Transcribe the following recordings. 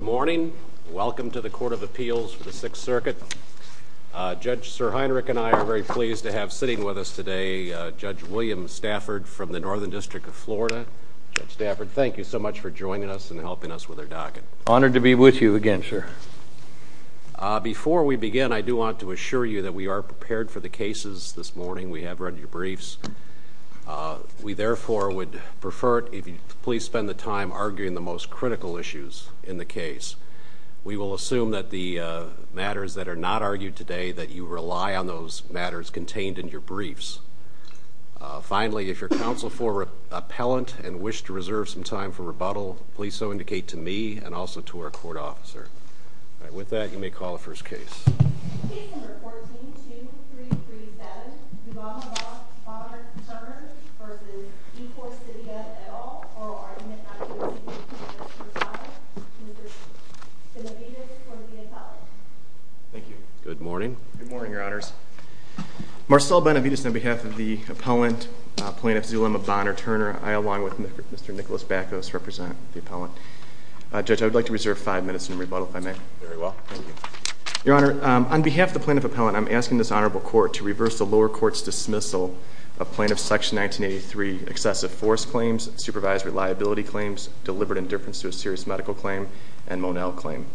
Good morning. Welcome to the Court of Appeals for the Sixth Circuit. Judge Sir Heinrich and I are very pleased to have sitting with us today Judge William Stafford from the Northern District of Florida. Judge Stafford, thank you so much for joining us and helping us with our docket. Honored to be with you again, sir. Before we begin, I do want to assure you that we are prepared for the cases this morning. We have read your briefs. We therefore would prefer it if you please spend the time arguing the most critical issues in the case. We will assume that the matters that are not argued today that you rely on those matters contained in your briefs. Finally, if your counsel for appellant and wish to reserve some time for rebuttal, please so indicate to me and also to our court officer. With that, you may call the first case. Good morning. Good morning, Your Honors. Marcel Benavides on behalf of the appellant plaintiff Zulema Bonner Turner, I along with Mr. Nicholas Backos represent the appellant. Judge, I would like to reserve five minutes in rebuttal if I may. Very well. Thank you. Your Honor, on behalf of the plaintiff appellant, I'm asking this honorable court to reverse the lower court's dismissal of plaintiff section 1983 excessive force claims, supervised reliability claims, deliberate indifference to a serious medical claim and Monell claim.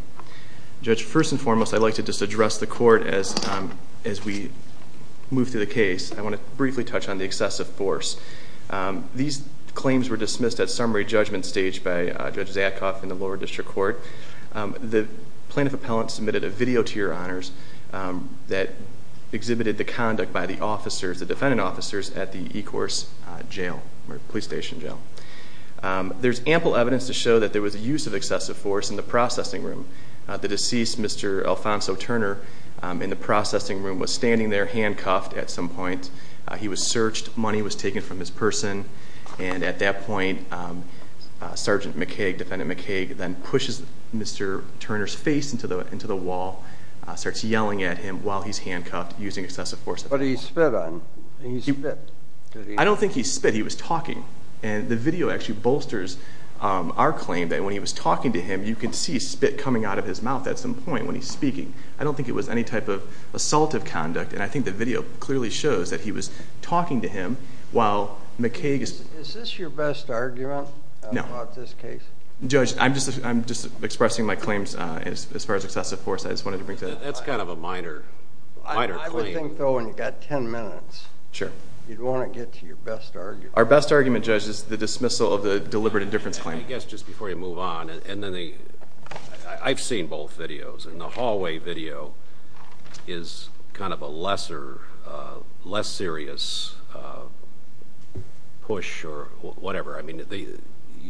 Judge, first and foremost, I'd like to just address the court as we move through the case. I want to briefly touch on the excessive force. These claims were staged by Judge Zadkoff in the lower district court. The plaintiff appellant submitted a video to Your Honors that exhibited the conduct by the officers, the defendant officers at the E-course jail or police station jail. There's ample evidence to show that there was a use of excessive force in the processing room. The deceased, Mr. Alfonso Turner, in the processing room was standing there handcuffed at some point. He was searched. Money was taken. Sergeant McKaig, defendant McKaig, then pushes Mr. Turner's face into the wall, starts yelling at him while he's handcuffed using excessive force. What did he spit on? I don't think he spit. He was talking. And the video actually bolsters our claim that when he was talking to him, you could see spit coming out of his mouth at some point when he's speaking. I don't think it was any type of assaultive conduct. And I think the video clearly shows that he was talking to him while McKaig is... Is this your best argument? No. About this case? Judge, I'm just expressing my claims as far as excessive force. I just wanted to bring that up. That's kind of a minor claim. I would think, though, when you've got 10 minutes, you'd want to get to your best argument. Our best argument, Judge, is the dismissal of the deliberate indifference claim. I guess just before you move on, I've seen both videos. And the hallway video is kind of a lesser, less serious push or whatever. I mean,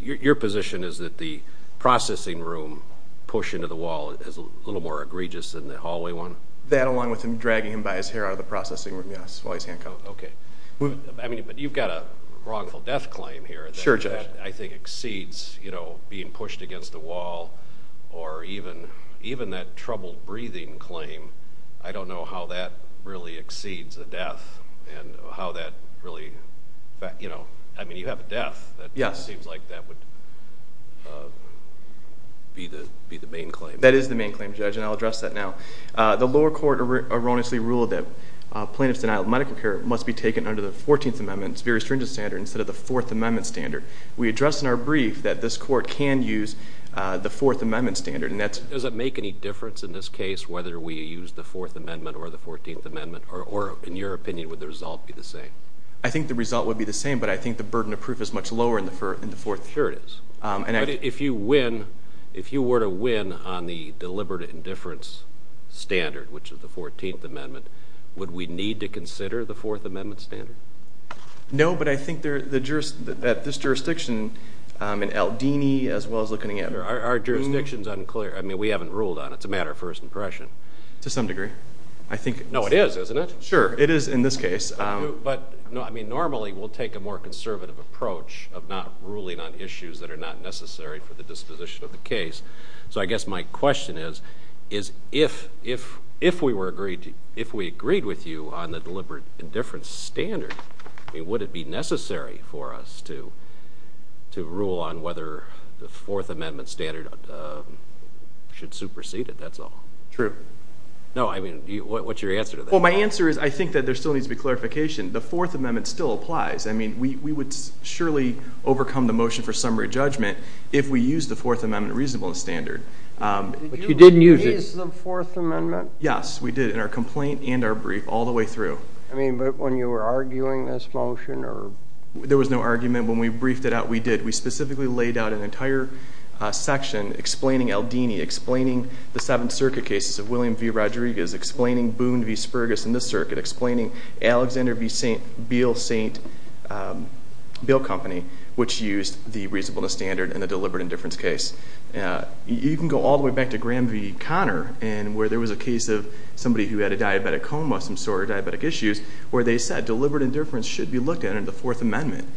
your position is that the processing room push into the wall is a little more egregious than the hallway one? That, along with him dragging him by his hair out of the processing room, yes, while he's handcuffed. Okay. I mean, but you've got a wrongful death claim here that I think exceeds being pushed against a wall or even that troubled breathing claim. I don't know how that really exceeds a death and how that really... I mean, you have a death. It seems like that would be the main claim. That is the main claim, Judge, and I'll address that now. The lower court erroneously ruled that plaintiff's denial of medical care must be taken under the 14th Amendment's very stringent standard instead of the 4th Amendment standard. We addressed in our brief that this court can use the 4th Amendment standard. Does it make any difference in this case whether we use the 4th Amendment or the 14th Amendment? Or in your opinion, would the result be the same? I think the result would be the same, but I think the burden of proof is much lower in the 4th. Sure it is. But if you were to win on the deliberate indifference standard, which is the 14th Amendment, would we need to consider the 4th Amendment standard? No, but I think at this jurisdiction in Aldini as well as looking at... Our jurisdiction's unclear. I mean, we haven't ruled on it. It's a matter of first impression. To some degree. I think... No, it is, isn't it? Sure, it is in this case. But, I mean, normally we'll take a more conservative approach of not ruling on issues that are not necessary for the disposition of the case. So I guess my question is, if we agreed with you on the deliberate indifference standard, would it be necessary for us to rule on whether the 4th Amendment standard should supersede it? That's all. True. No, I mean, what's your answer to that? Well, my answer is, I think that there still needs to be clarification. The 4th Amendment still applies. I mean, we would surely overcome the motion for summary judgment if we used the 4th Amendment reasonableness standard. But you didn't use it. Did you use the 4th Amendment? Yes, we did in our complaint and our brief all the way through. I mean, but when you were arguing this motion or... There was no argument. When we briefed it out, we did. We specifically laid out an entire section explaining Eldini, explaining the Seventh Circuit cases of William v. Rodriguez, explaining Boone v. Spurgess in this circuit, explaining Alexander v. St. Bill Company, which used the reasonableness standard in the deliberate indifference case. You can go all the way back to Graham v. Connor, where there was a case of somebody who had a diabetic coma, some sort of diabetic issues, where they said deliberate indifference should be looked at under the 4th Amendment.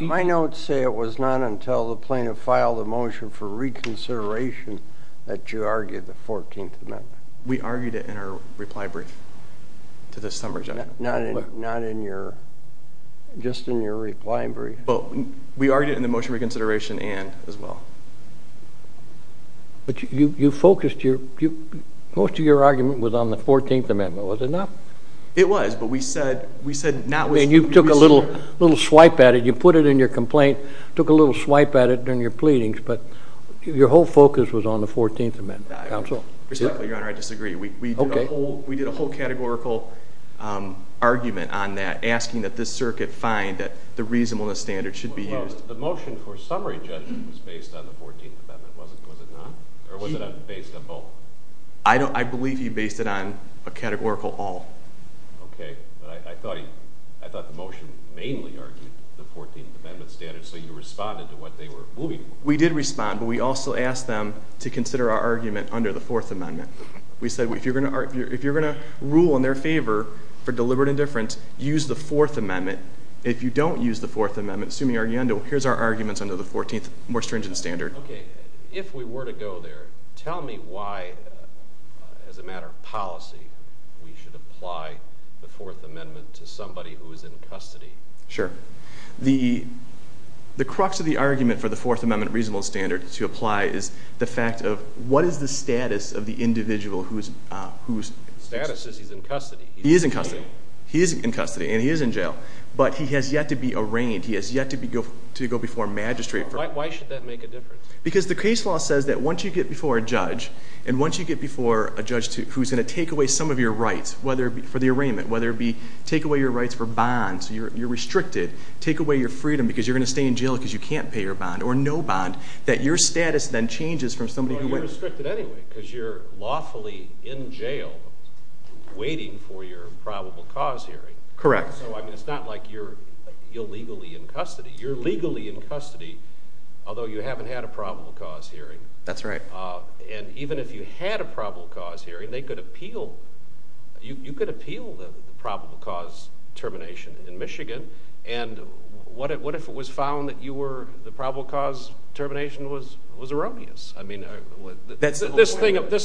My notes say it was not until the plaintiff filed a motion for reconsideration that you argued the 14th Amendment. We argued it in our reply brief to the summary judgment. Not in your... Just in your reply brief. We argued it in the motion reconsideration and as well. But you focused your... Most of your argument was on the 14th Amendment. You took a little swipe at it. You put it in your complaint, took a little swipe at it during your pleadings, but your whole focus was on the 14th Amendment. Counsel? I respectfully, Your Honor, disagree. We did a whole categorical argument on that, asking that this circuit find that the reasonableness standard should be used. The motion for summary judgment was based on the 14th Amendment, was it not? Or was it based on both? I believe you based it on a categorical all. Okay. I thought the motion mainly argued the 14th Amendment standard, so you responded to what they were moving. We did respond, but we also asked them to consider our argument under the 4th Amendment. We said, if you're going to rule in their favor for deliberate indifference, use the 4th Amendment. If you don't use the 4th Amendment, here's our arguments under the 14th more stringent standard. Okay. If we were to go there, tell me why, as a matter of policy, we should apply the 4th Amendment to somebody who is in custody. Sure. The crux of the argument for the 4th Amendment reasonable standard to apply is the fact of what is the status of the individual who is... Status is he's in custody. He is in custody. He is in custody and he is in jail, but he has yet to be arraigned. He has yet to go before a magistrate. Why should that make a difference? Because the case law says that once you get before a judge, and once you get before a judge who's going to take away some of your rights, whether it be for the arraignment, whether it be take away your rights for bonds, you're restricted, take away your freedom because you're going to stay in jail because you can't pay your bond or no bond, that your status then changes from somebody who went... You're restricted anyway because you're lawfully in jail waiting for your probable cause hearing. Correct. So, I mean, it's not like you're That's right. And even if you had a probable cause hearing, they could appeal... You could appeal the probable cause termination in Michigan. And what if it was found that you were... The probable cause termination was erroneous? I mean, this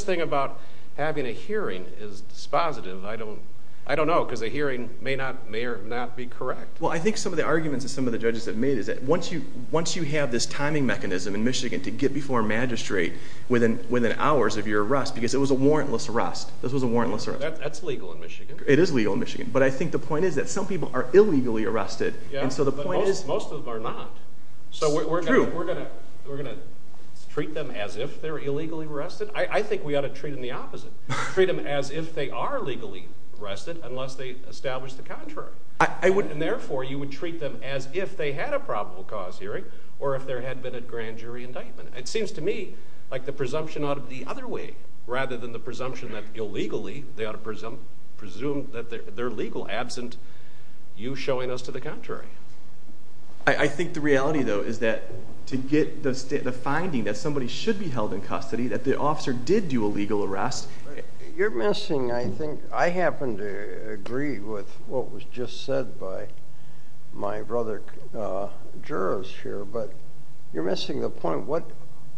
thing about having a hearing is dispositive. I don't know because a hearing may or may not be correct. Well, I think some of the arguments that some of the judges have made is that once you have this timing mechanism in Michigan to get before a magistrate within hours of your arrest because it was a warrantless arrest. This was a warrantless arrest. That's legal in Michigan. It is legal in Michigan. But I think the point is that some people are illegally arrested and so the point is... Most of them are not. True. So we're going to treat them as if they're illegally arrested? I think we ought to treat them the opposite. Treat them as if they are legally arrested unless they establish the contrary. And therefore, you would treat them as if they had a probable cause hearing or if there had been a grand jury indictment. It seems to me like the presumption ought to be the other way rather than the presumption that illegally they ought to presume that they're legal absent you showing us to the contrary. I think the reality, though, is that to get the finding that somebody should be held in custody, that the officer did do a legal arrest... You're missing, I think... I happen to agree with what was just said by my brother jurors here, but you're missing the point.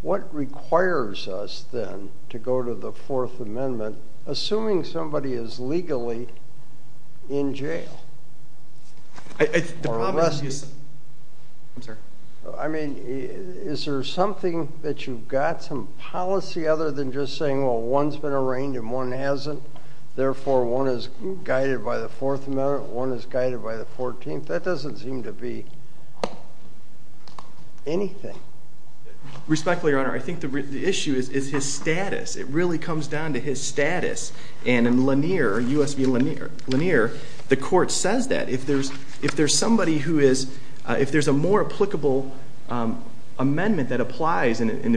What requires us then to go to the Fourth Amendment assuming somebody is legally in jail? I mean, is there something that you've got some policy other than just saying, well, one's been arraigned and one hasn't. Therefore, one is guided by the Fourth Amendment, one is guided by the Fourteenth. That doesn't seem to be anything. Respectfully, Your Honor, I think the issue is his status. It really comes down to his status. And in Lanier, U.S. v. Lanier, the court says that. If there's somebody who is... If there's a more applicable amendment that applies, how is it any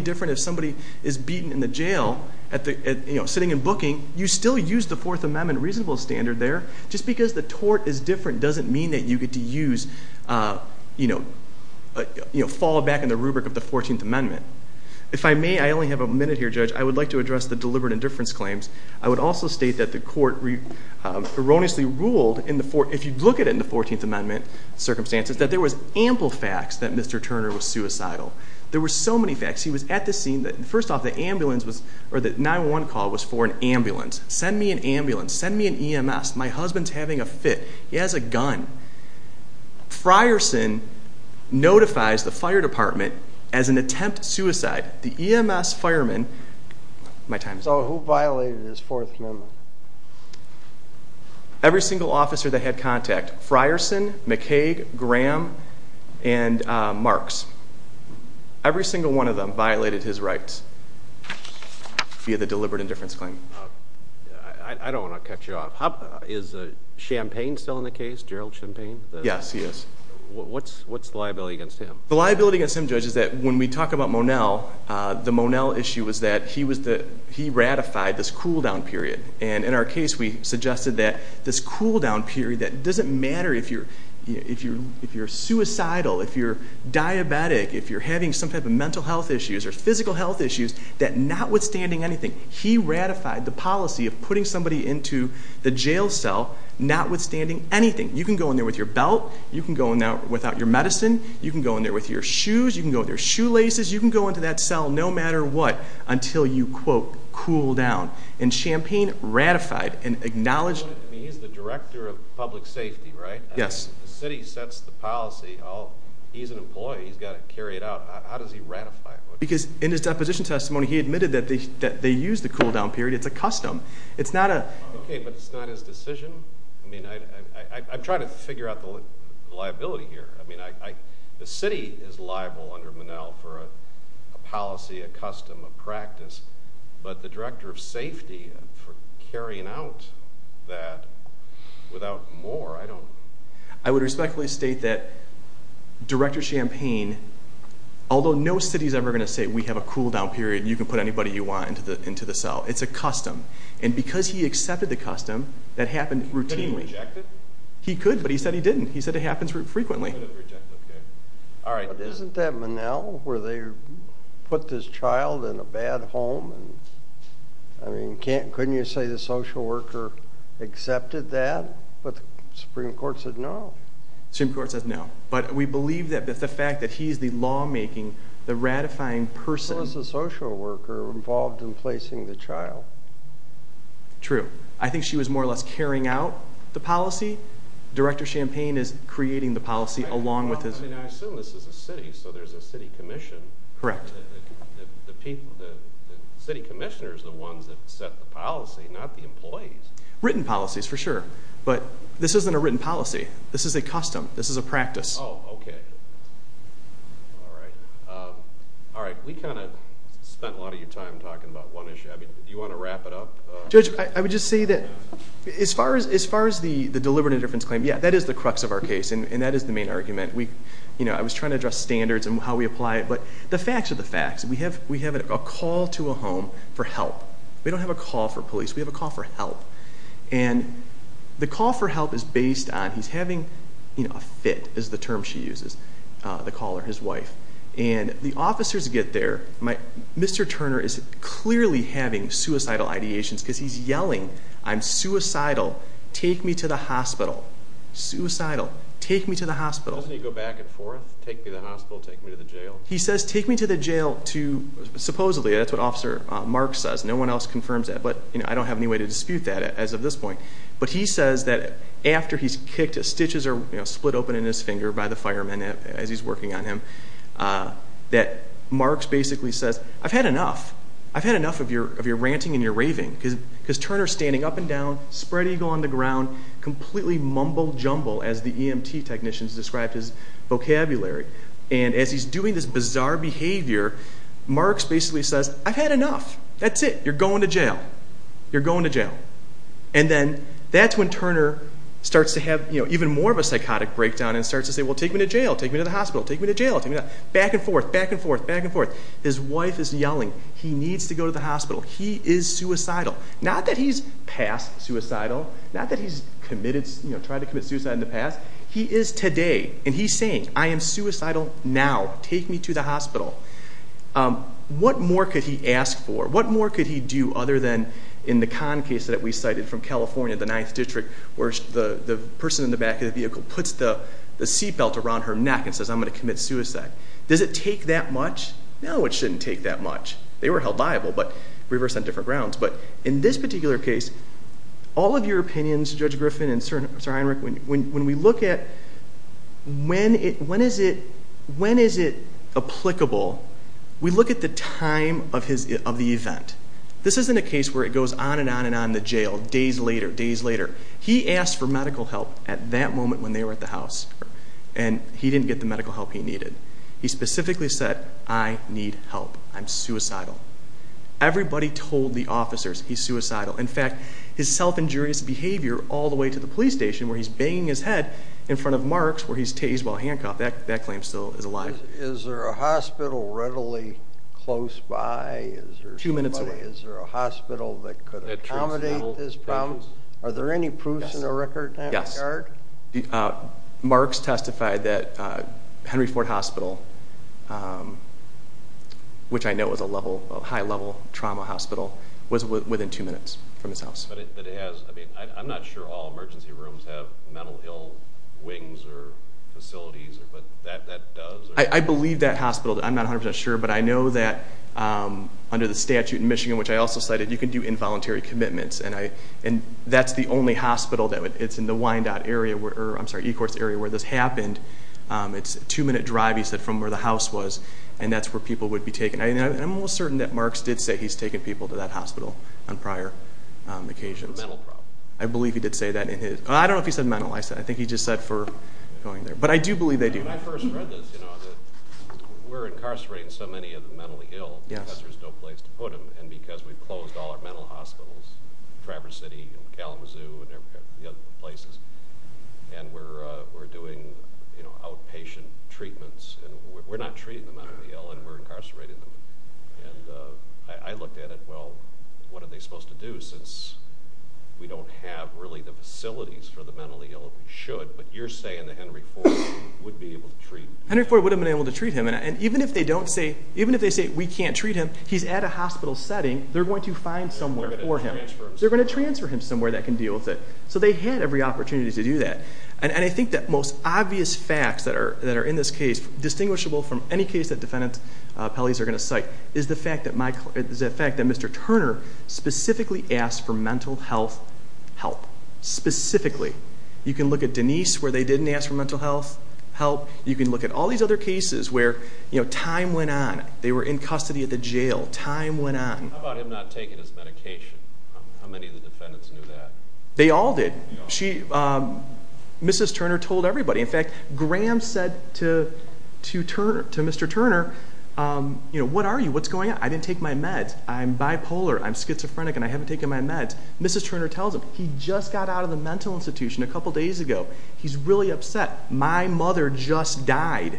different if somebody is beaten in the jail sitting and booking? You still use the Fourth Amendment reasonable standard there. Just because the tort is different doesn't mean that you get to use... Fall back in the rubric of the Fourteenth Amendment. If I may, I only have a minute here, Judge, I would like to address the deliberate indifference claims. I would also state that the court erroneously ruled, if you look at it in the Fourteenth Amendment circumstances, that there was ample facts that Mr. Turner was suicidal. There were so many facts. He was at the scene that... First off, the ambulance was... Or the 911 call was for an ambulance. Send me an ambulance. Send me an EMS. My husband's having a fit. He has a gun. Frierson notifies the fire department as an attempt suicide. The EMS fireman... My time is up. So who violated his Fourth Amendment? Every single officer that had contact. Frierson, McCaig, Graham, and Marks. Every single one of them violated his rights via the deliberate indifference claim. I don't want to cut you off. Is Champagne still in the case? Gerald Champagne? Yes, he is. What's the liability against him? The liability against him, Judge, is that when we talk about Monel, the Monel issue is that he ratified this cool-down period. In our case, we suggested that this cool-down period that doesn't matter if you're suicidal, if you're diabetic, if you're having some type of mental health issues or physical health issues, that notwithstanding anything, he ratified the policy of putting somebody into the jail cell notwithstanding anything. You can go in there with your belt. You can go in there without your medicine. You can go in there with your shoes. You can go in there with your shoelaces. You can go into that where you, quote, cool down. And Champagne ratified and acknowledged... He's the director of public safety, right? Yes. The city sets the policy. He's an employee. He's got to carry it out. How does he ratify it? Because in his deposition testimony, he admitted that they used the cool-down period. It's a custom. It's not a... Okay, but it's not his decision? I mean, I'm trying to figure out the liability here. I mean, the city is liable under Monel for a policy, a custom, a practice, but the director of safety for carrying out that without more, I don't... I would respectfully state that Director Champagne, although no city is ever going to say, we have a cool-down period and you can put anybody you want into the cell. It's a custom. And because he accepted the custom, that happened routinely. Could he reject it? He could, but he said he didn't. He said it happens frequently. Alright. Isn't that Monel where they put this child in a bad home? I mean, couldn't you say the social worker accepted that? But the Supreme Court said no. Supreme Court says no. But we believe that the fact that he's the lawmaking, the ratifying person... It was the social worker involved in placing the child. True. I think she was more or less carrying out the policy. Director Champagne is creating the policy along with his... I assume this is a city, so there's a city commission. Correct. The city commissioner is the ones that set the policy, not the employees. Written policies, for sure. But this isn't a written policy. This is a custom. This is a practice. Oh, okay. Alright. We kind of spent a lot of your time talking about one issue. Do you want to wrap it up? Judge, I would just say that as far as the deliberate indifference claim, yeah, that is the crux of our case, and that is the main argument. I was trying to address standards and how we apply it, but the facts are the facts. We have a call to a home for help. We don't have a call for police. We have a call for help. And the call for help is based on, he's having a fit, is the term she uses, the caller, his wife. And the officers get there. Mr. Turner is clearly having suicidal ideations, because he's yelling, I'm suicidal. Take me to the hospital. Suicidal. Take me to the hospital. Doesn't he go back and forth? Take me to the hospital, take me to the jail? He says, take me to the jail to... Supposedly, that's what Officer Marks says. No one else confirms that, but I don't have any way to dispute that as of this point. But he says that after he's kicked, his stitches are split open in his finger by the fireman as he's working on him, that Marks basically says, I've had enough. I've had enough of your ranting and your raving, because Turner's standing up and down, spread eagle on the ground, completely mumble jumble, as the EMT technicians described his vocabulary. And as he's doing this bizarre behavior, Marks basically says, I've had enough. That's it. You're going to jail. You're going to jail. And then that's when Turner starts to have even more of a psychotic breakdown and starts to say, well, take me to jail. Take me to the hospital. Take me to jail. Take me to... Back and forth, back and forth, back and forth. His wife is yelling, he needs to go to the hospital. He is suicidal. Not that he's past suicidal, not that he's committed... Tried to commit suicide in the past. He is today. And he's saying, I am suicidal now. Take me to the hospital. What more could he ask for? What more could he do other than in the con case that we cited from California, the ninth district, where the person in the back of the vehicle puts the seatbelt around her neck and says, I'm going to commit suicide. Does it take that much? No, it shouldn't take that much. They were held liable, but reversed on different grounds. But in this particular case, all of your opinions, Judge Griffin and Sir Einrich, when we look at when is it applicable, we look at the time of the event. This isn't a case where it goes on and on in the jail, days later, days later. He asked for medical help at that moment when they were at the house, and he didn't get the medical help he needed. He specifically said, I need help. I'm suicidal. Everybody told the officers he's suicidal. In fact, his self injurious behavior all the way to the police station where he's banging his head in front of marks where he's tased while handcuffed, that claim still is alive. Is there a hospital readily close by? Two minutes away. Is there a hospital that could accommodate this problem? Are there any proofs in the record? Yes. Marks testified that Henry Ford Hospital, which I know is a high level trauma hospital, was within two minutes from his house. I'm not sure all emergency rooms have mental ill wings or facilities, but that does? I believe that hospital, I'm not 100% sure, but I know that under the statute in the law, I also cited, you can do involuntary commitments, and that's the only hospital that would, it's in the Wyandotte area, or I'm sorry, Eccles area, where this happened. It's a two minute drive, he said, from where the house was, and that's where people would be taken. I'm almost certain that Marks did say he's taken people to that hospital on prior occasions. I believe he did say that in his, I don't know if he said mental, I think he just said for going there, but I do believe they do. When I first read this, you know, we're incarcerating so many of the mentally ill because there's no place to put them, and because we've closed all our mental hospitals, Traverse City, Kalamazoo, and other places, and we're doing outpatient treatments, and we're not treating the mentally ill, and we're incarcerating them. And I looked at it, well, what are they supposed to do since we don't have really the facilities for the mentally ill that we should, but you're saying that Henry Ford would be able to treat... Henry Ford would have been able to treat him, and even if they say we can't treat him, he's at a hospital setting, they're going to find somewhere for him. They're going to transfer him somewhere that can deal with it. So they had every opportunity to do that. And I think that most obvious facts that are in this case, distinguishable from any case that defendant's appellees are going to cite, is the fact that Mr. Turner specifically asked for mental health help. Specifically. You can look at Denise, where they didn't ask for mental health help. You can look at all these other cases where time went on. They were in custody at the jail. Time went on. How about him not taking his medication? How many of the defendants knew that? They all did. Mrs. Turner told everybody. In fact, Graham said to Mr. Turner, what are you? What's going on? I didn't take my meds. I'm bipolar. I'm schizophrenic, and I haven't taken my meds. Mrs. Turner tells him, he just got out of the mental institution a couple days ago. He's really upset. My mother just died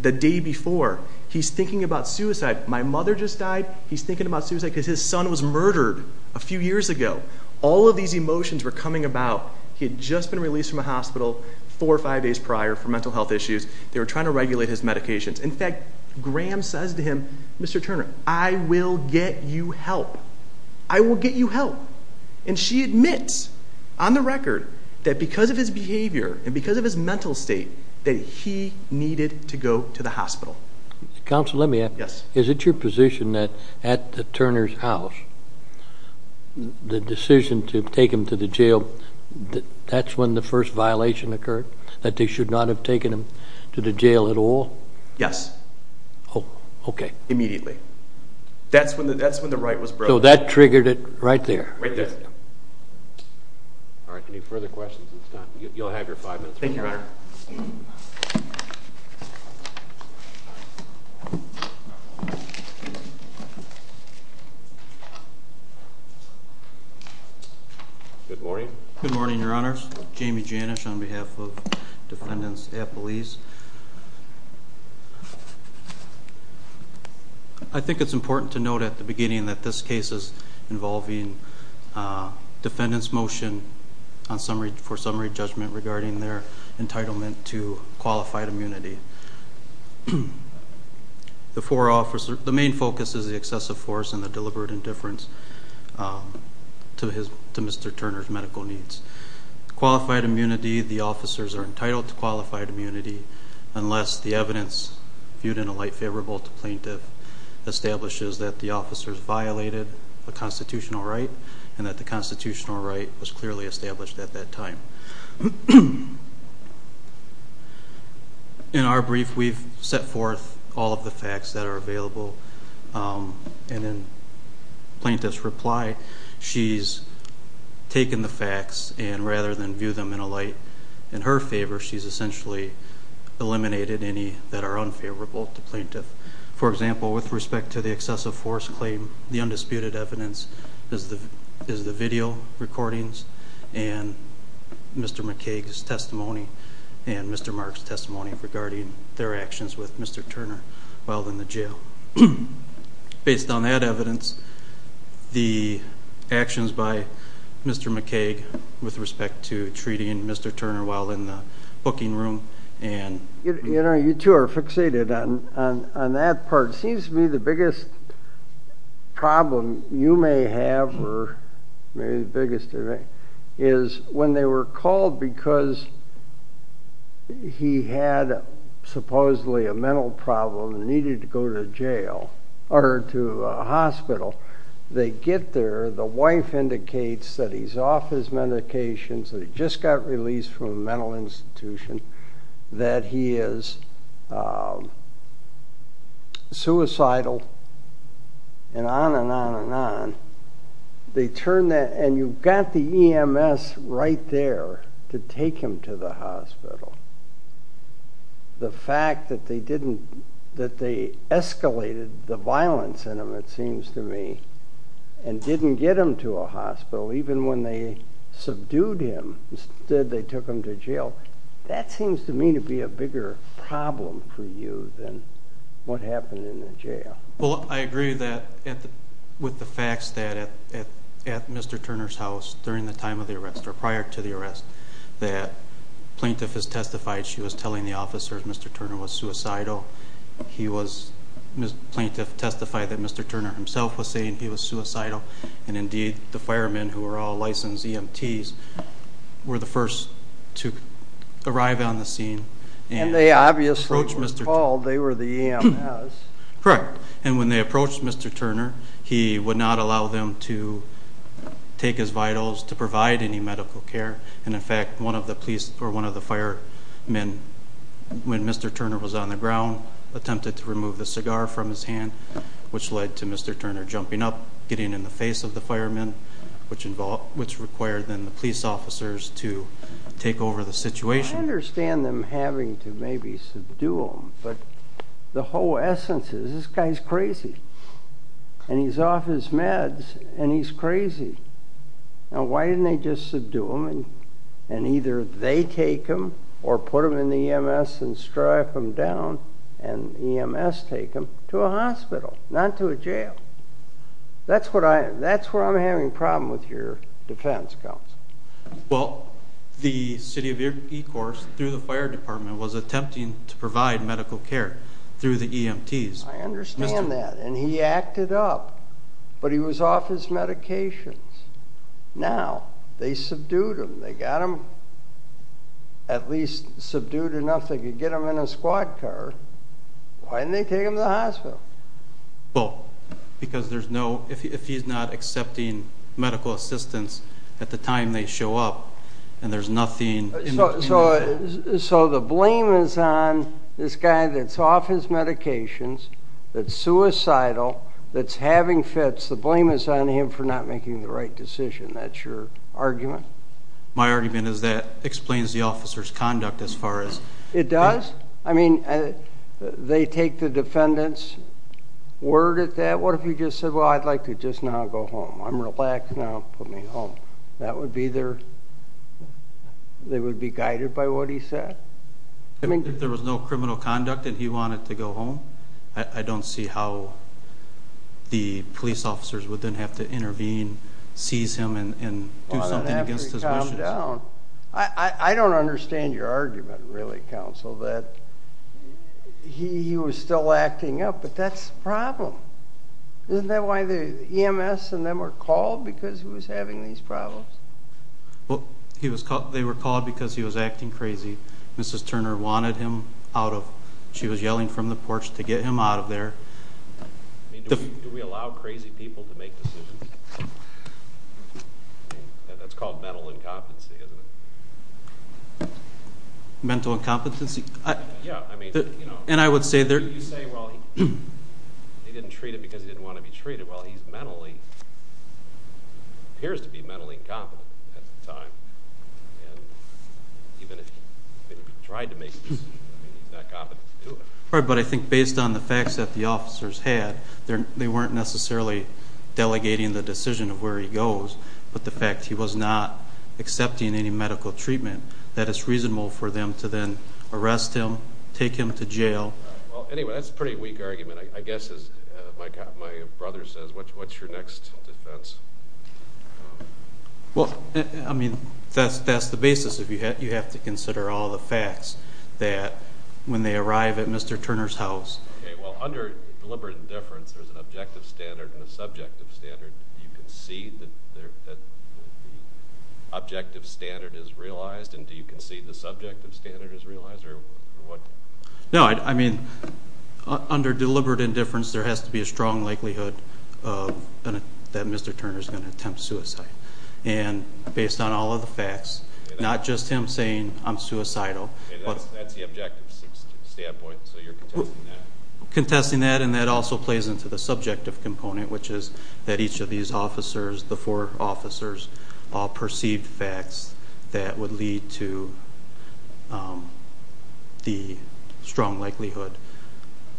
the day before. He's thinking about suicide. My mother just died. He's thinking about suicide because his son was murdered a few years ago. All of these emotions were coming about. He had just been released from a hospital four or five days prior for mental health issues. They were trying to regulate his medications. In fact, Graham says to him, Mr. Turner, I will get you help. I will get you help. And she admits on the record that because of his behavior and because of his mental state, that he needed to go to the hospital. Counsel, let me ask. Yes. Is it your position that at the Turner's house, the decision to take him to the jail, that's when the first violation occurred? That they should not have taken him to the jail at all? Yes. Oh, okay. Immediately. That's when the right was broken. So that triggered it right there. Right there. All right. Any further questions? You'll have your five minutes. Thank you, Your Honor. Good morning. Good morning, Your Honors. Jamie Janish on behalf of defendants at police. I think it's important to note at the beginning that this case is involving a defendant's motion on summary for summary judgment regarding their entitlement to qualified immunity. The four officers, the main focus is the excessive force and the deliberate indifference to his, to Mr. Turner's medical needs. Qualified immunity, the officers are entitled to qualified immunity unless the evidence viewed in a light favorable to plaintiff establishes that the officers violated a constitutional right and that the constitutional right was clearly established at that time. In our brief, we've set forth all of the facts that are available and then plaintiff's reply. She's taken the facts and rather than view them in a light in her favor, she's essentially eliminated any that are unfavorable to plaintiff. For example, with respect to the excessive force claim, the undisputed evidence is the video recordings and Mr. McCaig's testimony and Mr. Mark's testimony regarding their actions with Mr. Turner while in the jail. Based on that evidence, the actions by Mr. McCaig with respect to treating Mr. Turner while in the booking room and... You know, you two are fixated on that part. Seems to me the biggest problem you may have or maybe the biggest to me is when they were called because he had supposedly a mental problem and needed to go to jail or to a hospital, they get there, the wife indicates that he's off his medications, that he just got released from a mental institution, that he is suicidal and on and on and on. They turn that and you've got the EMS right there to take him to the hospital. The fact that they escalated the and didn't get him to a hospital, even when they subdued him, instead they took him to jail, that seems to me to be a bigger problem for you than what happened in the jail. Well, I agree that with the facts that at Mr. Turner's house during the time of the arrest or prior to the arrest that plaintiff has testified she was telling the officers Mr. Turner himself was saying he was suicidal and indeed the firemen who were all licensed EMTs were the first to arrive on the scene. And they obviously were called, they were the EMS. Correct. And when they approached Mr. Turner, he would not allow them to take his vitals to provide any medical care. And in fact, one of the police or one of the firemen, when Mr. Turner was on the which led to Mr. Turner jumping up, getting in the face of the firemen, which involved, which required then the police officers to take over the situation. I understand them having to maybe subdue him, but the whole essence is this guy's crazy. And he's off his meds and he's crazy. Now, why didn't they just subdue him and either they take him or put him in the EMS and strip him down and EMS take him to a hospital, not to a jail. That's what I, that's where I'm having problem with your defense counsel. Well, the city of Ecorse through the fire department was attempting to provide medical care through the EMTs. I understand that. And he acted up, but he was off his medications. Now they subdued him. They got him at least subdued enough. They could get him in a squad car. Why didn't they take him to the hospital? Well, because there's no, if he's not accepting medical assistance at the time they show up and there's nothing. So, so the blame is on this guy that's off his medications. That's suicidal. That's having fits. The blame is on him for not making the right decision. That's your argument. My argument is that explains the officer's conduct as far as... It does. I mean, they take the defendant's word at that. What if he just said, well, I'd like to just now go home. I'm relaxed now. Put me home. That would be their, they would be guided by what he said. If there was no criminal conduct and he wanted to go home, I don't see how the police would then have to intervene, seize him and do something against his wishes. I don't understand your argument really, counsel, that he was still acting up, but that's the problem. Isn't that why the EMS and them were called because he was having these problems? Well, he was called, they were called because he was acting crazy. Mrs. Turner wanted him out of, she was yelling from the porch to get him out of there. Do we allow crazy people to make decisions? That's called mental incompetency, isn't it? Mental incompetency? Yeah. And I would say they're... You say, well, he didn't treat it because he didn't want to be treated. Well, he's mentally, appears to be mentally incompetent at the time. And even if he tried to make decisions, he's not competent to do it. Right, but I think based on the facts that the officers had, they weren't necessarily delegating the decision of where he goes, but the fact he was not accepting any medical treatment, that it's reasonable for them to then arrest him, take him to jail. Well, anyway, that's a pretty weak argument. I guess, as my brother says, what's your next defense? Well, I mean, that's the basis. You have to consider all the facts that when they arrive at Mr. Turner's house... Okay, well, under deliberate indifference, there's an objective standard and a subjective standard. Do you concede that the objective standard is realized, and do you concede the subjective standard is realized, or what? No, I mean, under deliberate indifference, there has to be a strong likelihood that Mr. Turner's gonna attempt suicide. And based on all of the facts, not just him saying, I'm suicidal... That's the objective standpoint, so you're contesting that? Contesting that, and that also plays into the subjective component, which is that each of these officers, the four officers, all perceived facts that would lead to the strong likelihood,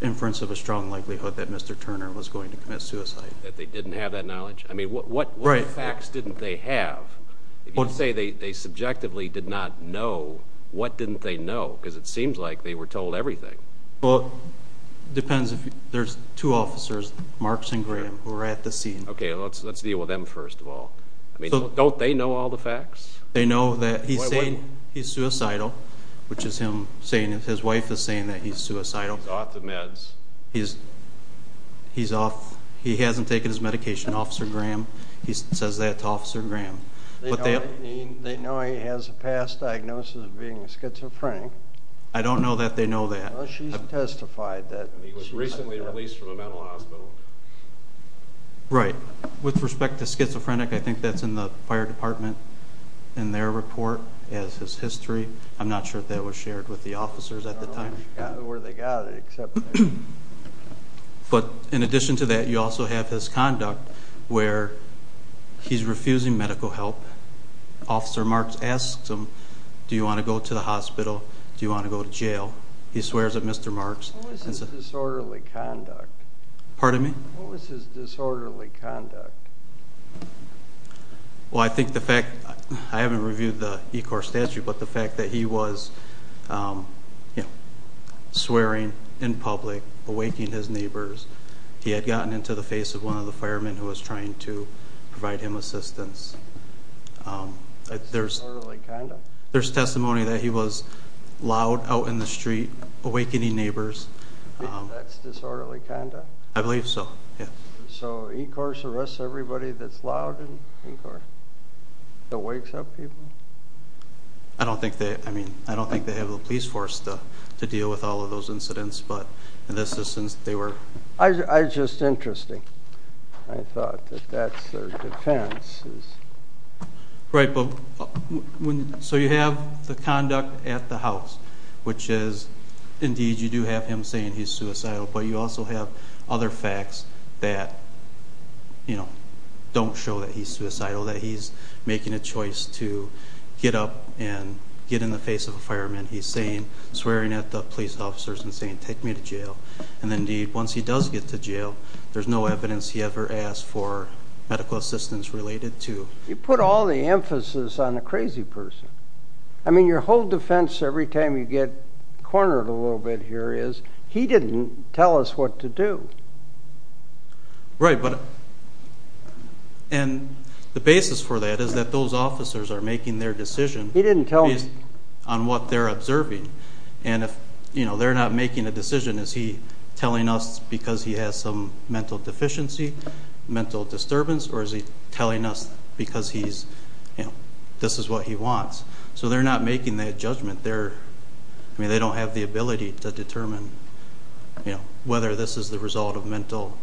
inference of a strong likelihood that Mr. Turner was going to commit suicide. That they didn't have that knowledge? I mean, what facts didn't they have? If you say they subjectively did not know, what didn't they know? Because it seems like they were told everything. Well, it depends. There's two officers, Marks and Graham, who are at the scene. Okay, let's deal with them first of all. I mean, don't they know all the facts? They know that he's saying he's suicidal, which is him saying... His wife is saying that he's suicidal. He's off the meds. He hasn't taken his medication, Officer Graham. He says that to Officer Graham. They know he has a past diagnosis of being schizophrenic. I don't know that they know that. She's testified that. He was recently released from a mental hospital. Right. With respect to schizophrenic, I think that's in the fire department, in their report, has his history. I'm not sure if that was shared with the officers at the time. I don't know where they got it, except... But in addition to that, you also have his conduct, where he's refusing medical help. Officer Marks asks him, do you want to go to the hospital? Do you want to go to jail? He swears at Mr. Marks. What was his disorderly conduct? Pardon me? What was his disorderly conduct? Well, I think the fact... I haven't reviewed the ECOR statute, but the fact that he was swearing in public, awakening his neighbors. He had gotten into the face of one of the firemen who was trying to provide him assistance. There's... Disorderly conduct? There's testimony that he was loud out in the street, awakening neighbors. That's disorderly conduct? I believe so, yeah. So ECOR arrests everybody that's loud in ECOR? That wakes up people? I don't think they... I mean, I don't think they have the police force to deal with all of those incidents, but in this instance, they were... I just... Interesting. I thought that that's their defense. Right, but... So you have the conduct at the house, which is, indeed, you do have him saying he's suicidal, but you also have other facts that don't show that he's suicidal, that he's making a choice to get up and get in the face of a fireman. He's saying, swearing at the police officers and saying, take me to jail. And indeed, once he does get to jail, there's no evidence he ever asked for medical assistance related to... You put all the emphasis on the crazy person. I mean, your whole defense every time you get cornered a little bit here is, he didn't tell us what to do. Right, but... And the basis for that is that those officers are making their decision... He didn't tell us. Based on what they're observing. And if they're not making a decision, is he telling us because he has some mental deficiency, mental disturbance, or is he telling us because he's... This is what he wants. So they're not making that judgment, they're... I mean, they don't have the ability to determine whether this is the result of mental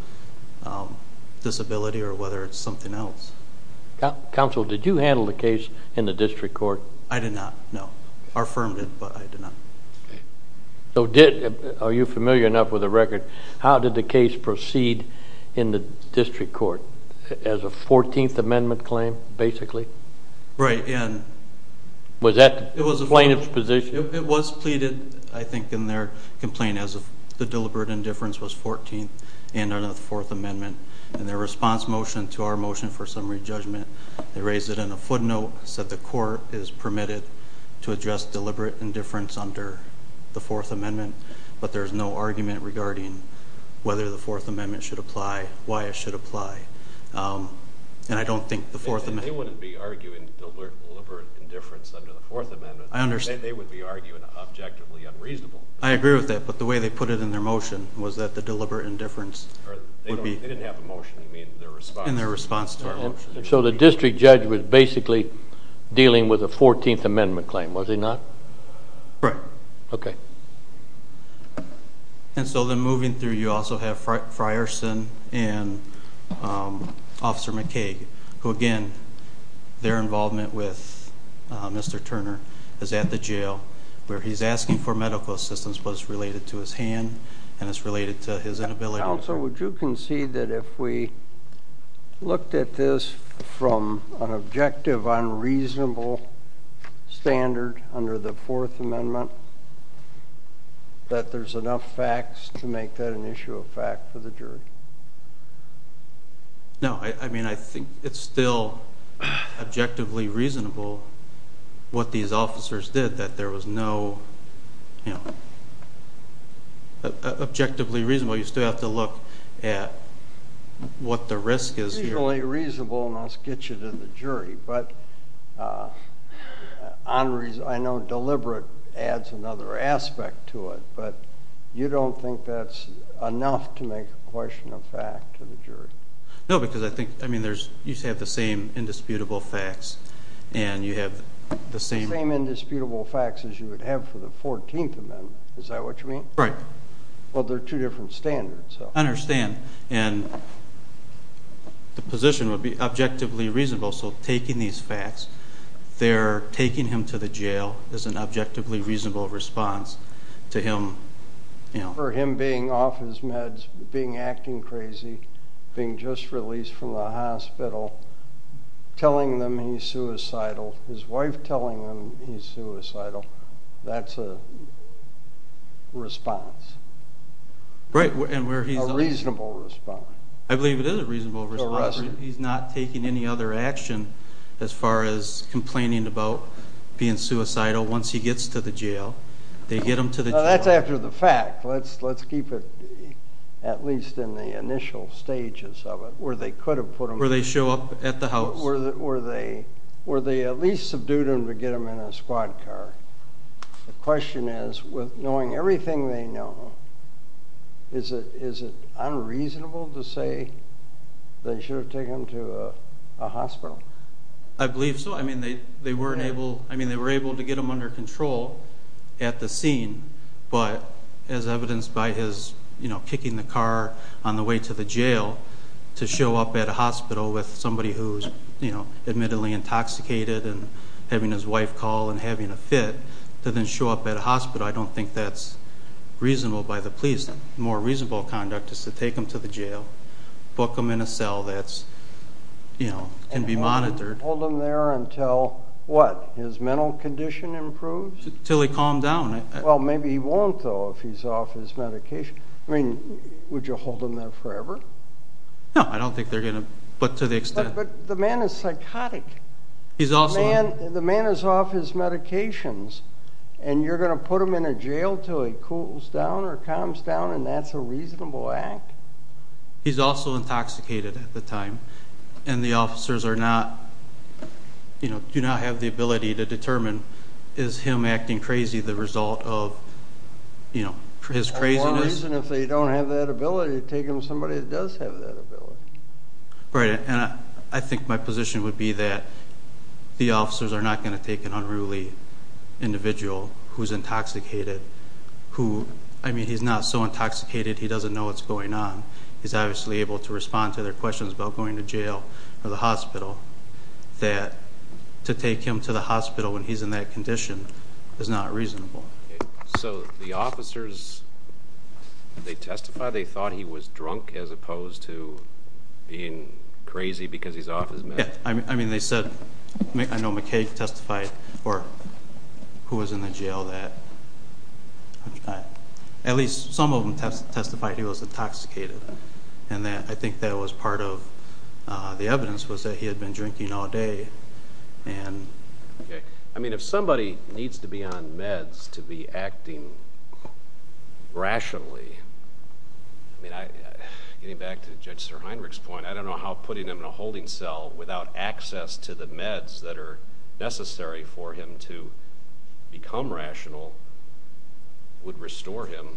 disability or whether it's something else. Counsel, did you handle the case in the district court? I did not, no. Our firm did, but I did not. Are you familiar enough with the record? How did the case proceed in the district court? As a 14th Amendment claim, basically? Right, and... Was that the plaintiff's position? It was pleaded, I think, in their complaint as if the deliberate indifference was 14th and under the Fourth Amendment. In their response motion to our motion for summary judgment, they raised it in a footnote, said the court is permitted to address deliberate indifference under the Fourth Amendment, but there's no argument regarding whether the Fourth Amendment should apply, why it should apply. And I don't think the Fourth Amendment... They wouldn't be arguing deliberate indifference under the Fourth Amendment. I understand. They would be arguing objectively unreasonable. I agree with that, but the way they put it in their motion was that the deliberate indifference... They didn't have a motion, they mean in their response. In their response to our motion. So the district judge was basically dealing with a 14th Amendment claim, was he not? Right. Okay. And so then moving through, you also have Frierson and Officer McKay, who again, their involvement with Mr. Turner is at the jail where he's asking for medical assistance, but it's related to his hand and it's related to his inability... Counsel, would you concede that if we looked at this from an objective unreasonable standard under the Fourth Amendment, that there's enough facts to make that an issue of fact for the jury? No, I mean, I think it's still objectively reasonable what these officers did, that there was no... Objectively reasonable, you still have to look at what the risk is here. It's usually reasonable, and I'll sketch it in the jury, but I know deliberate adds another aspect to it, but you don't think that's enough to make a question of fact to the jury? No, because I think, I mean, you have the same indisputable facts and you have the same... The same indisputable facts as you would have for the 14th Amendment. Is that what you mean? Right. Well, they're two different standards, so... I understand. And the position would be objectively reasonable, so taking these facts, they're taking him to the jail as an objectively reasonable response to him... For him being off his meds, being acting crazy, being just released from the hospital, telling them he's suicidal, his wife telling him he's suicidal, that's a response. Right, and where he's... A reasonable response. I believe it is a reasonable response, he's not taking any other action as far as complaining about being suicidal once he gets to the jail. They get him to the jail... That's after the fact, let's keep it at least in the initial stages of it, where they could have put him... Where they show up at the house. Where they at least subdued him to get him in a squad car. The question is, with knowing everything they know, is it unreasonable to say they should have taken him to a hospital? I believe so. I mean, they were able to get him under control at the scene, but as evidenced by his kicking the car on the way to the jail, to show up at a hospital with somebody who's admittedly intoxicated and having his wife call and having a fit, to then show up at a hospital, I don't think that's reasonable by the police. More reasonable conduct is to take him to the jail, book him in a cell that can be monitored. Hold him there until what? His mental condition improves? Till he calmed down. Well, maybe he won't, though, if he's off his medication. I mean, would you hold him there forever? No, I don't think they're going to, but to the extent... But the man is psychotic. The man is off his medications, and you're going to put him in a jail till he cools down or calms down, and that's a reasonable act? He's also intoxicated at the time, and the officers do not have the ability to determine, is him acting crazy the result of his craziness? If they don't have that ability, take him to somebody that does have that ability. Right, and I think my position would be that the officers are not going to take an unruly individual who's intoxicated, who, I mean, he's not so intoxicated, he doesn't know what's going on. He's obviously able to respond to their questions about going to jail or the hospital, that to take him to the hospital when he's in that condition is not reasonable. So the officers, did they testify they thought he was drunk as opposed to being crazy because he's off his medication? Yeah, I mean, they said... I know McKay testified, or who was in the jail that... At least some of them testified he was intoxicated, and I think that was part of the evidence was that he had been drinking all day, and... I mean, if somebody needs to be on meds to be acting rationally, I mean, getting back to Judge Sir Heinrich's point, I don't know how putting him in a holding cell without access to the meds that are necessary for him to become rational would restore him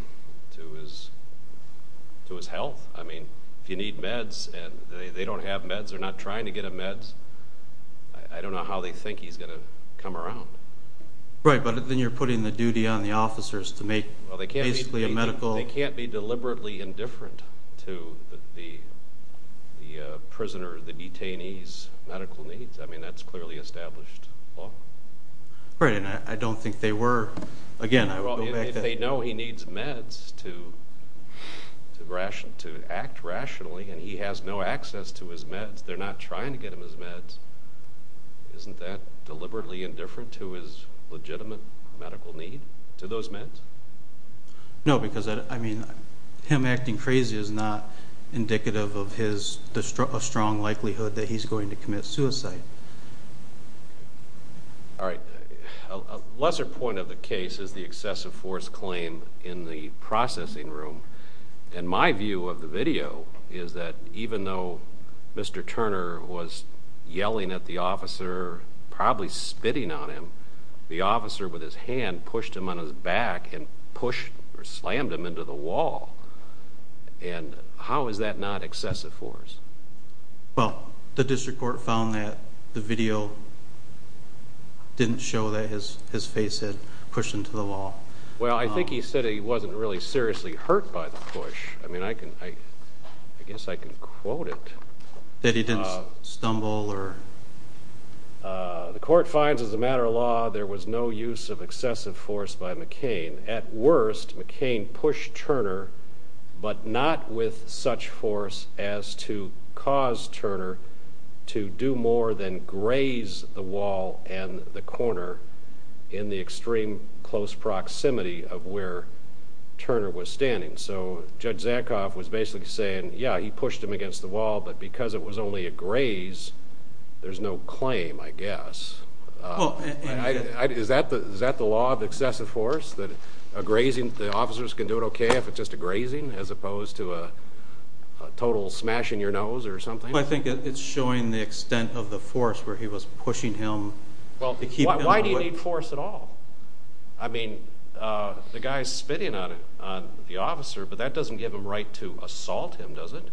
to his health. I mean, if you need meds and they don't have meds, they're not trying to get him meds, I don't know how they think he's going to come around. Right, but then you're putting the duty on the officers to make basically a medical... They can't be deliberately indifferent to the prisoner, the detainee's medical needs. I mean, that's clearly established law. Right, and I don't think they were. Again, I would go back to... They know he needs meds to act rationally, and he has no access to his meds. They're not trying to get him his meds. Isn't that deliberately indifferent to his legitimate medical need to those meds? No, because, I mean, him acting crazy is not indicative of his strong likelihood that he's going to commit suicide. All right, a lesser point of the case is the excessive force claim is that even though Mr. Turner was yelling at the officer, probably spitting on him, the officer with his hand pushed him on his back and pushed or slammed him into the wall. And how is that not excessive force? Well, the district court found that the video didn't show that his face had pushed into the wall. Well, I think he said he wasn't really seriously hurt by the push. I mean, I guess I can quote it. That he didn't stumble or... The court finds, as a matter of law, there was no use of excessive force by McCain. At worst, McCain pushed Turner, but not with such force as to cause Turner to do more than graze the wall and the corner in the extreme close proximity of where Turner was standing. So Judge Zankoff was basically saying, yeah, he pushed him against the wall, but because it was only a graze, there's no claim, I guess. Is that the law of excessive force? That a grazing, the officers can do it okay if it's just a grazing as opposed to a total smash in your nose or something? I think it's showing the extent of the force where he was pushing him. Well, why do you need force at all? I mean, the guy's spitting on the officer, but that doesn't give him right to assault him, does it?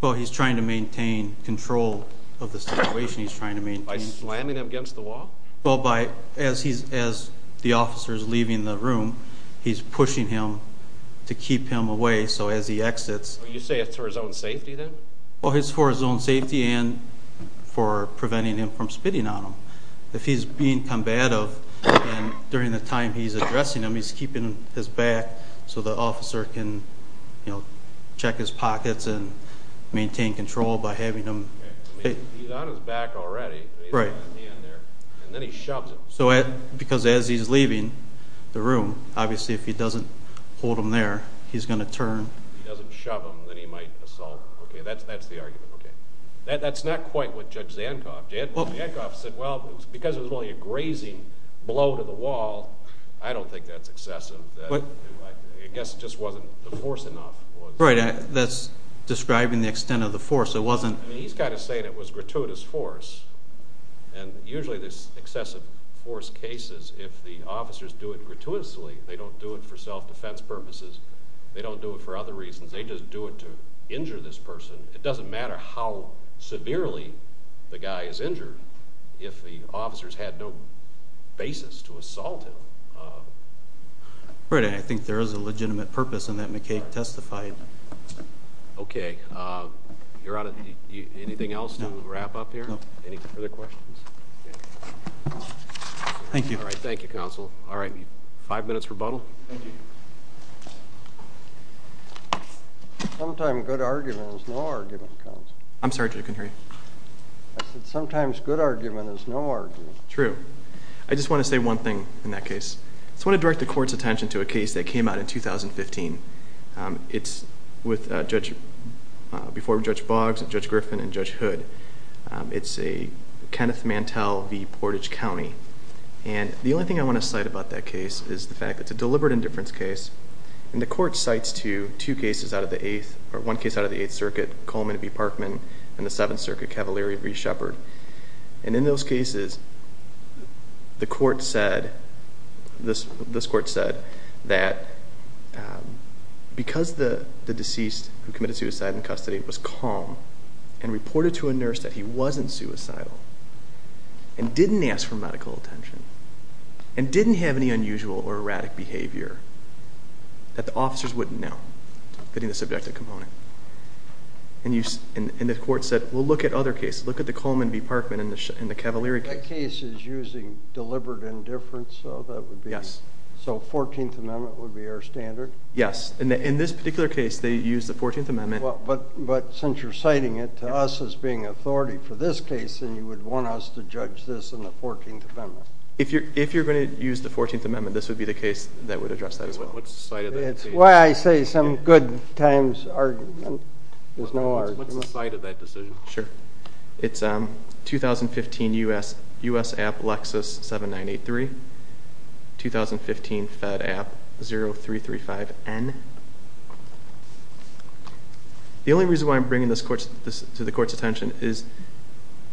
Well, he's trying to maintain control of the situation. He's trying to maintain... By slamming him against the wall? Well, as the officer is leaving the room, he's pushing him to keep him away. So as he exits... You say it's for his own safety then? Well, it's for his own safety and for preventing him from spitting on him. If he's being combative and during the time he's addressing him, he's keeping his back so the officer can check his pockets and maintain control by having him... He's on his back already, he's got his hand there, and then he shoves him. Because as he's leaving the room, obviously if he doesn't hold him there, he's going to turn. He doesn't shove him, then he might assault him. Okay, that's the argument. That's not quite what Judge Zankoff did. Zankoff said, well, because it was only a grazing blow to the wall, I don't think that's excessive. I guess it just wasn't the force enough. Right, that's describing the extent of the force. It wasn't... He's got to say that it was gratuitous force. And usually this excessive force cases, if the officers do it gratuitously, they don't do it for self-defense purposes. They don't do it for other reasons. They just do it to injure this person. It doesn't matter how severely the guy is injured if the officers had no basis to assault him. Right, and I think there is a legitimate purpose in that McCaig testified. Okay, you're out of... Anything else to wrap up here? No. Any further questions? Thank you. All right, thank you, counsel. All right, five minutes rebuttal. Thank you. Sometimes good argument is no argument, counsel. I'm sorry, Judge, I couldn't hear you. I said sometimes good argument is no argument. True. I just want to say one thing in that case. I just want to direct the court's attention to a case that came out in 2015. It's with Judge... Before Judge Boggs and Judge Griffin and Judge Hood. It's a Kenneth Mantell v. Portage County. And the only thing I want to cite about that case is the fact that it's a deliberate indifference case. And the court cites two cases out of the eighth... Or one case out of the Eighth Circuit, Coleman v. Parkman and the Seventh Circuit, Cavalieri v. Sheppard. And in those cases, the court said... This court said that because the deceased who committed suicide in custody was calm and reported to a nurse that he wasn't suicidal and didn't ask for medical attention and didn't have any unusual or erratic behavior that the officers wouldn't know, fitting the subjective component. And the court said, well, look at other cases. Look at the Coleman v. Parkman and the Cavalieri case. That case is using deliberate indifference, so that would be... Yes. So 14th Amendment would be our standard? Yes. And in this particular case, they used the 14th Amendment. But since you're citing it to us as being authority for this case, then you would want us to judge this in the 14th Amendment. If you're going to use the 14th Amendment, this would be the case that would address that as well. What's the site of that case? It's why I say some good times are... There's no argument. What's the site of that decision? Sure. It's 2015 U.S. App Lexus 7983, 2015 Fed App 0335N. The only reason why I'm bringing this to the court's attention is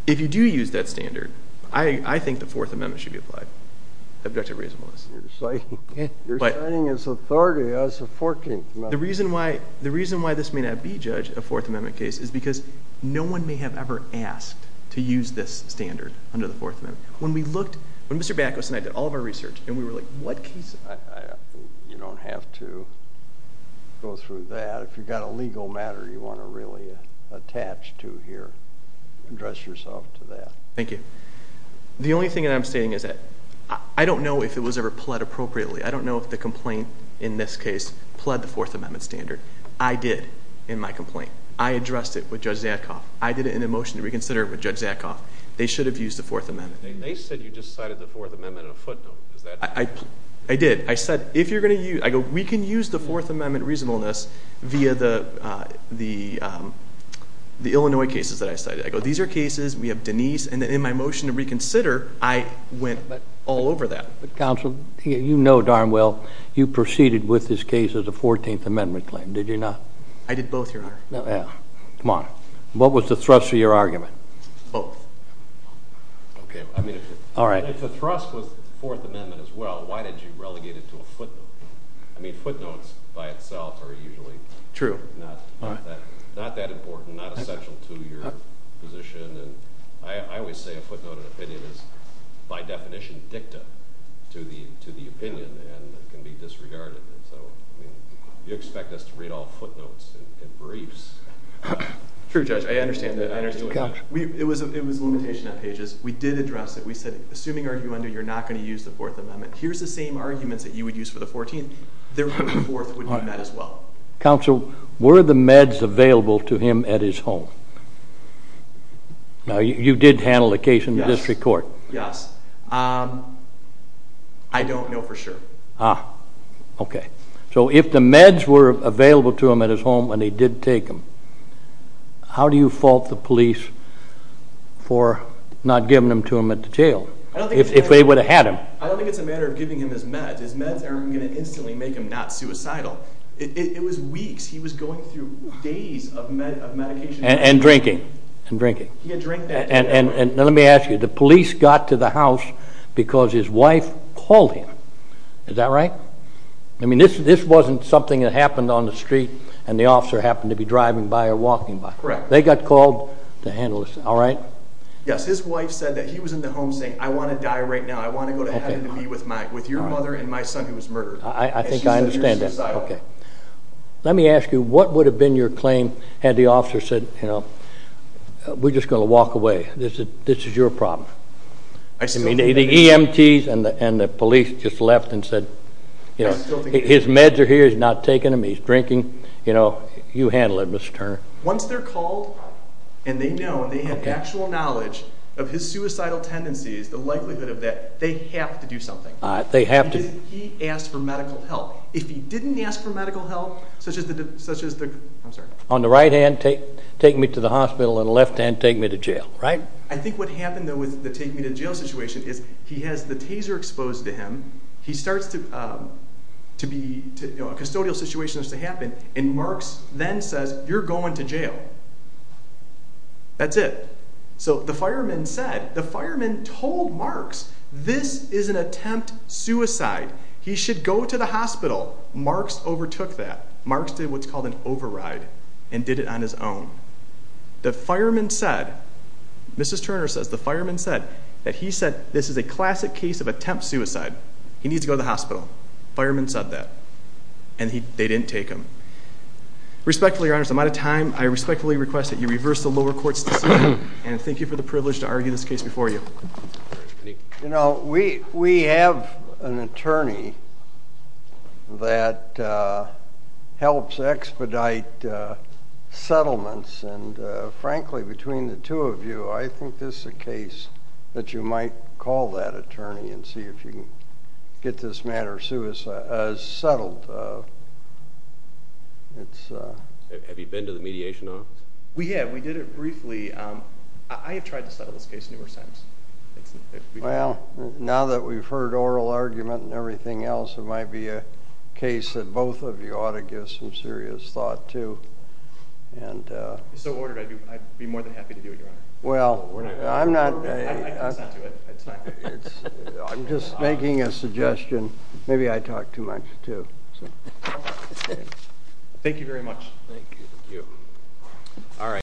if you do use that standard, I think the Fourth Amendment should be applied. Objective reasonableness. You're citing it as authority as a 14th Amendment. The reason why this may not be judged a Fourth Amendment case is because no one may have ever asked to use this standard under the Fourth Amendment. When we looked... When Mr. Bakos and I did all of our research and we were like, what case... You don't have to go through that. If you've got a legal matter you want to really attach to here, address yourself to that. Thank you. The only thing that I'm saying is that I don't know if it was ever pled appropriately. I don't know if the complaint in this case pled the Fourth Amendment standard. I did in my complaint. I addressed it with Judge Zadkoff. I did it in a motion to reconsider it with Judge Zadkoff. They should have used the Fourth Amendment. They said you just cited the Fourth Amendment in a footnote. I did. I said, if you're going to use... I go, we can use the Fourth Amendment reasonableness via the Illinois cases that I cited. These are cases. We have Denise. And in my motion to reconsider, I went all over that. But counsel, you know darn well you proceeded with this case as a Fourteenth Amendment claim, did you not? I did both, your honor. Yeah. Come on. What was the thrust of your argument? Both. Okay. I mean, if the thrust was the Fourth Amendment as well, why did you relegate it to a footnote? I mean, footnotes by itself are usually... True. ...not that important, not essential to your position. And I always say a footnoted opinion is, by definition, dicta to the opinion. And it can be disregarded. So, I mean, you expect us to read all footnotes and briefs. True, Judge. I understand that. It was a limitation on pages. We did address it. We said, assuming arguendo, you're not going to use the Fourth Amendment. Here's the same arguments that you would use for the Fourteenth. Therefore, the Fourth would be met as well. Counsel, were the meds available to him at his home? Now, you did handle the case in district court. Yes. I don't know for sure. Okay. So, if the meds were available to him at his home and he did take them, how do you fault the police for not giving them to him at the jail, if they would have had him? I don't think it's a matter of giving him his meds. His meds aren't going to instantly make him not suicidal. It was weeks. He was going through days of medication. And drinking. And drinking. Let me ask you, the police got to the house because his wife called him. Is that right? I mean, this wasn't something that happened on the street and the officer happened to be driving by or walking by. Correct. They got called to handle this, all right? Yes. His wife said that he was in the home saying, I want to die right now. I want to go to heaven and be with your mother and my son who was murdered. I think I understand that. Let me ask you, what would have been your claim had the officer said, we're just going to walk away. This is your problem. The EMTs and the police just left and said, his meds are here. He's not taking them. He's drinking. You handle it, Mr. Turner. Once they're called and they know and they have actual knowledge of his suicidal tendencies, the likelihood of that, they have to do something. They have to. Because he asked for medical help. If he didn't ask for medical help, such as the, I'm sorry. On the right hand, take me to the hospital. On the left hand, take me to jail, right? I think what happened though with the take me to jail situation is he has the taser exposed to him. He starts to be, a custodial situation has to happen. And Marks then says, you're going to jail. That's it. So the fireman said, the fireman told Marks, this is an attempt suicide. He should go to the hospital. Marks overtook that. Marks did what's called an override and did it on his own. The fireman said, Mrs. Turner says, the fireman said that he said, this is a classic case of attempt suicide. He needs to go to the hospital. Fireman said that. And they didn't take him. Respectfully, your honors, I'm out of time. I respectfully request that you reverse the lower court's decision. And thank you for the privilege to argue this case before you. You know, we have an attorney that helps expedite settlements. And frankly, between the two of you, I think this is a case that you might call that attorney and see if you can get this matter settled. Have you been to the mediation office? We have. We did it briefly. I have tried to settle this case numerous times. Well, now that we've heard oral argument and everything else, it might be a case that both of you ought to give some serious thought to. And so ordered, I'd be more than happy to do it, your honor. Well, I'm not. I'm just making a suggestion. Maybe I talk too much, too. Thank you very much. Thank you. All right.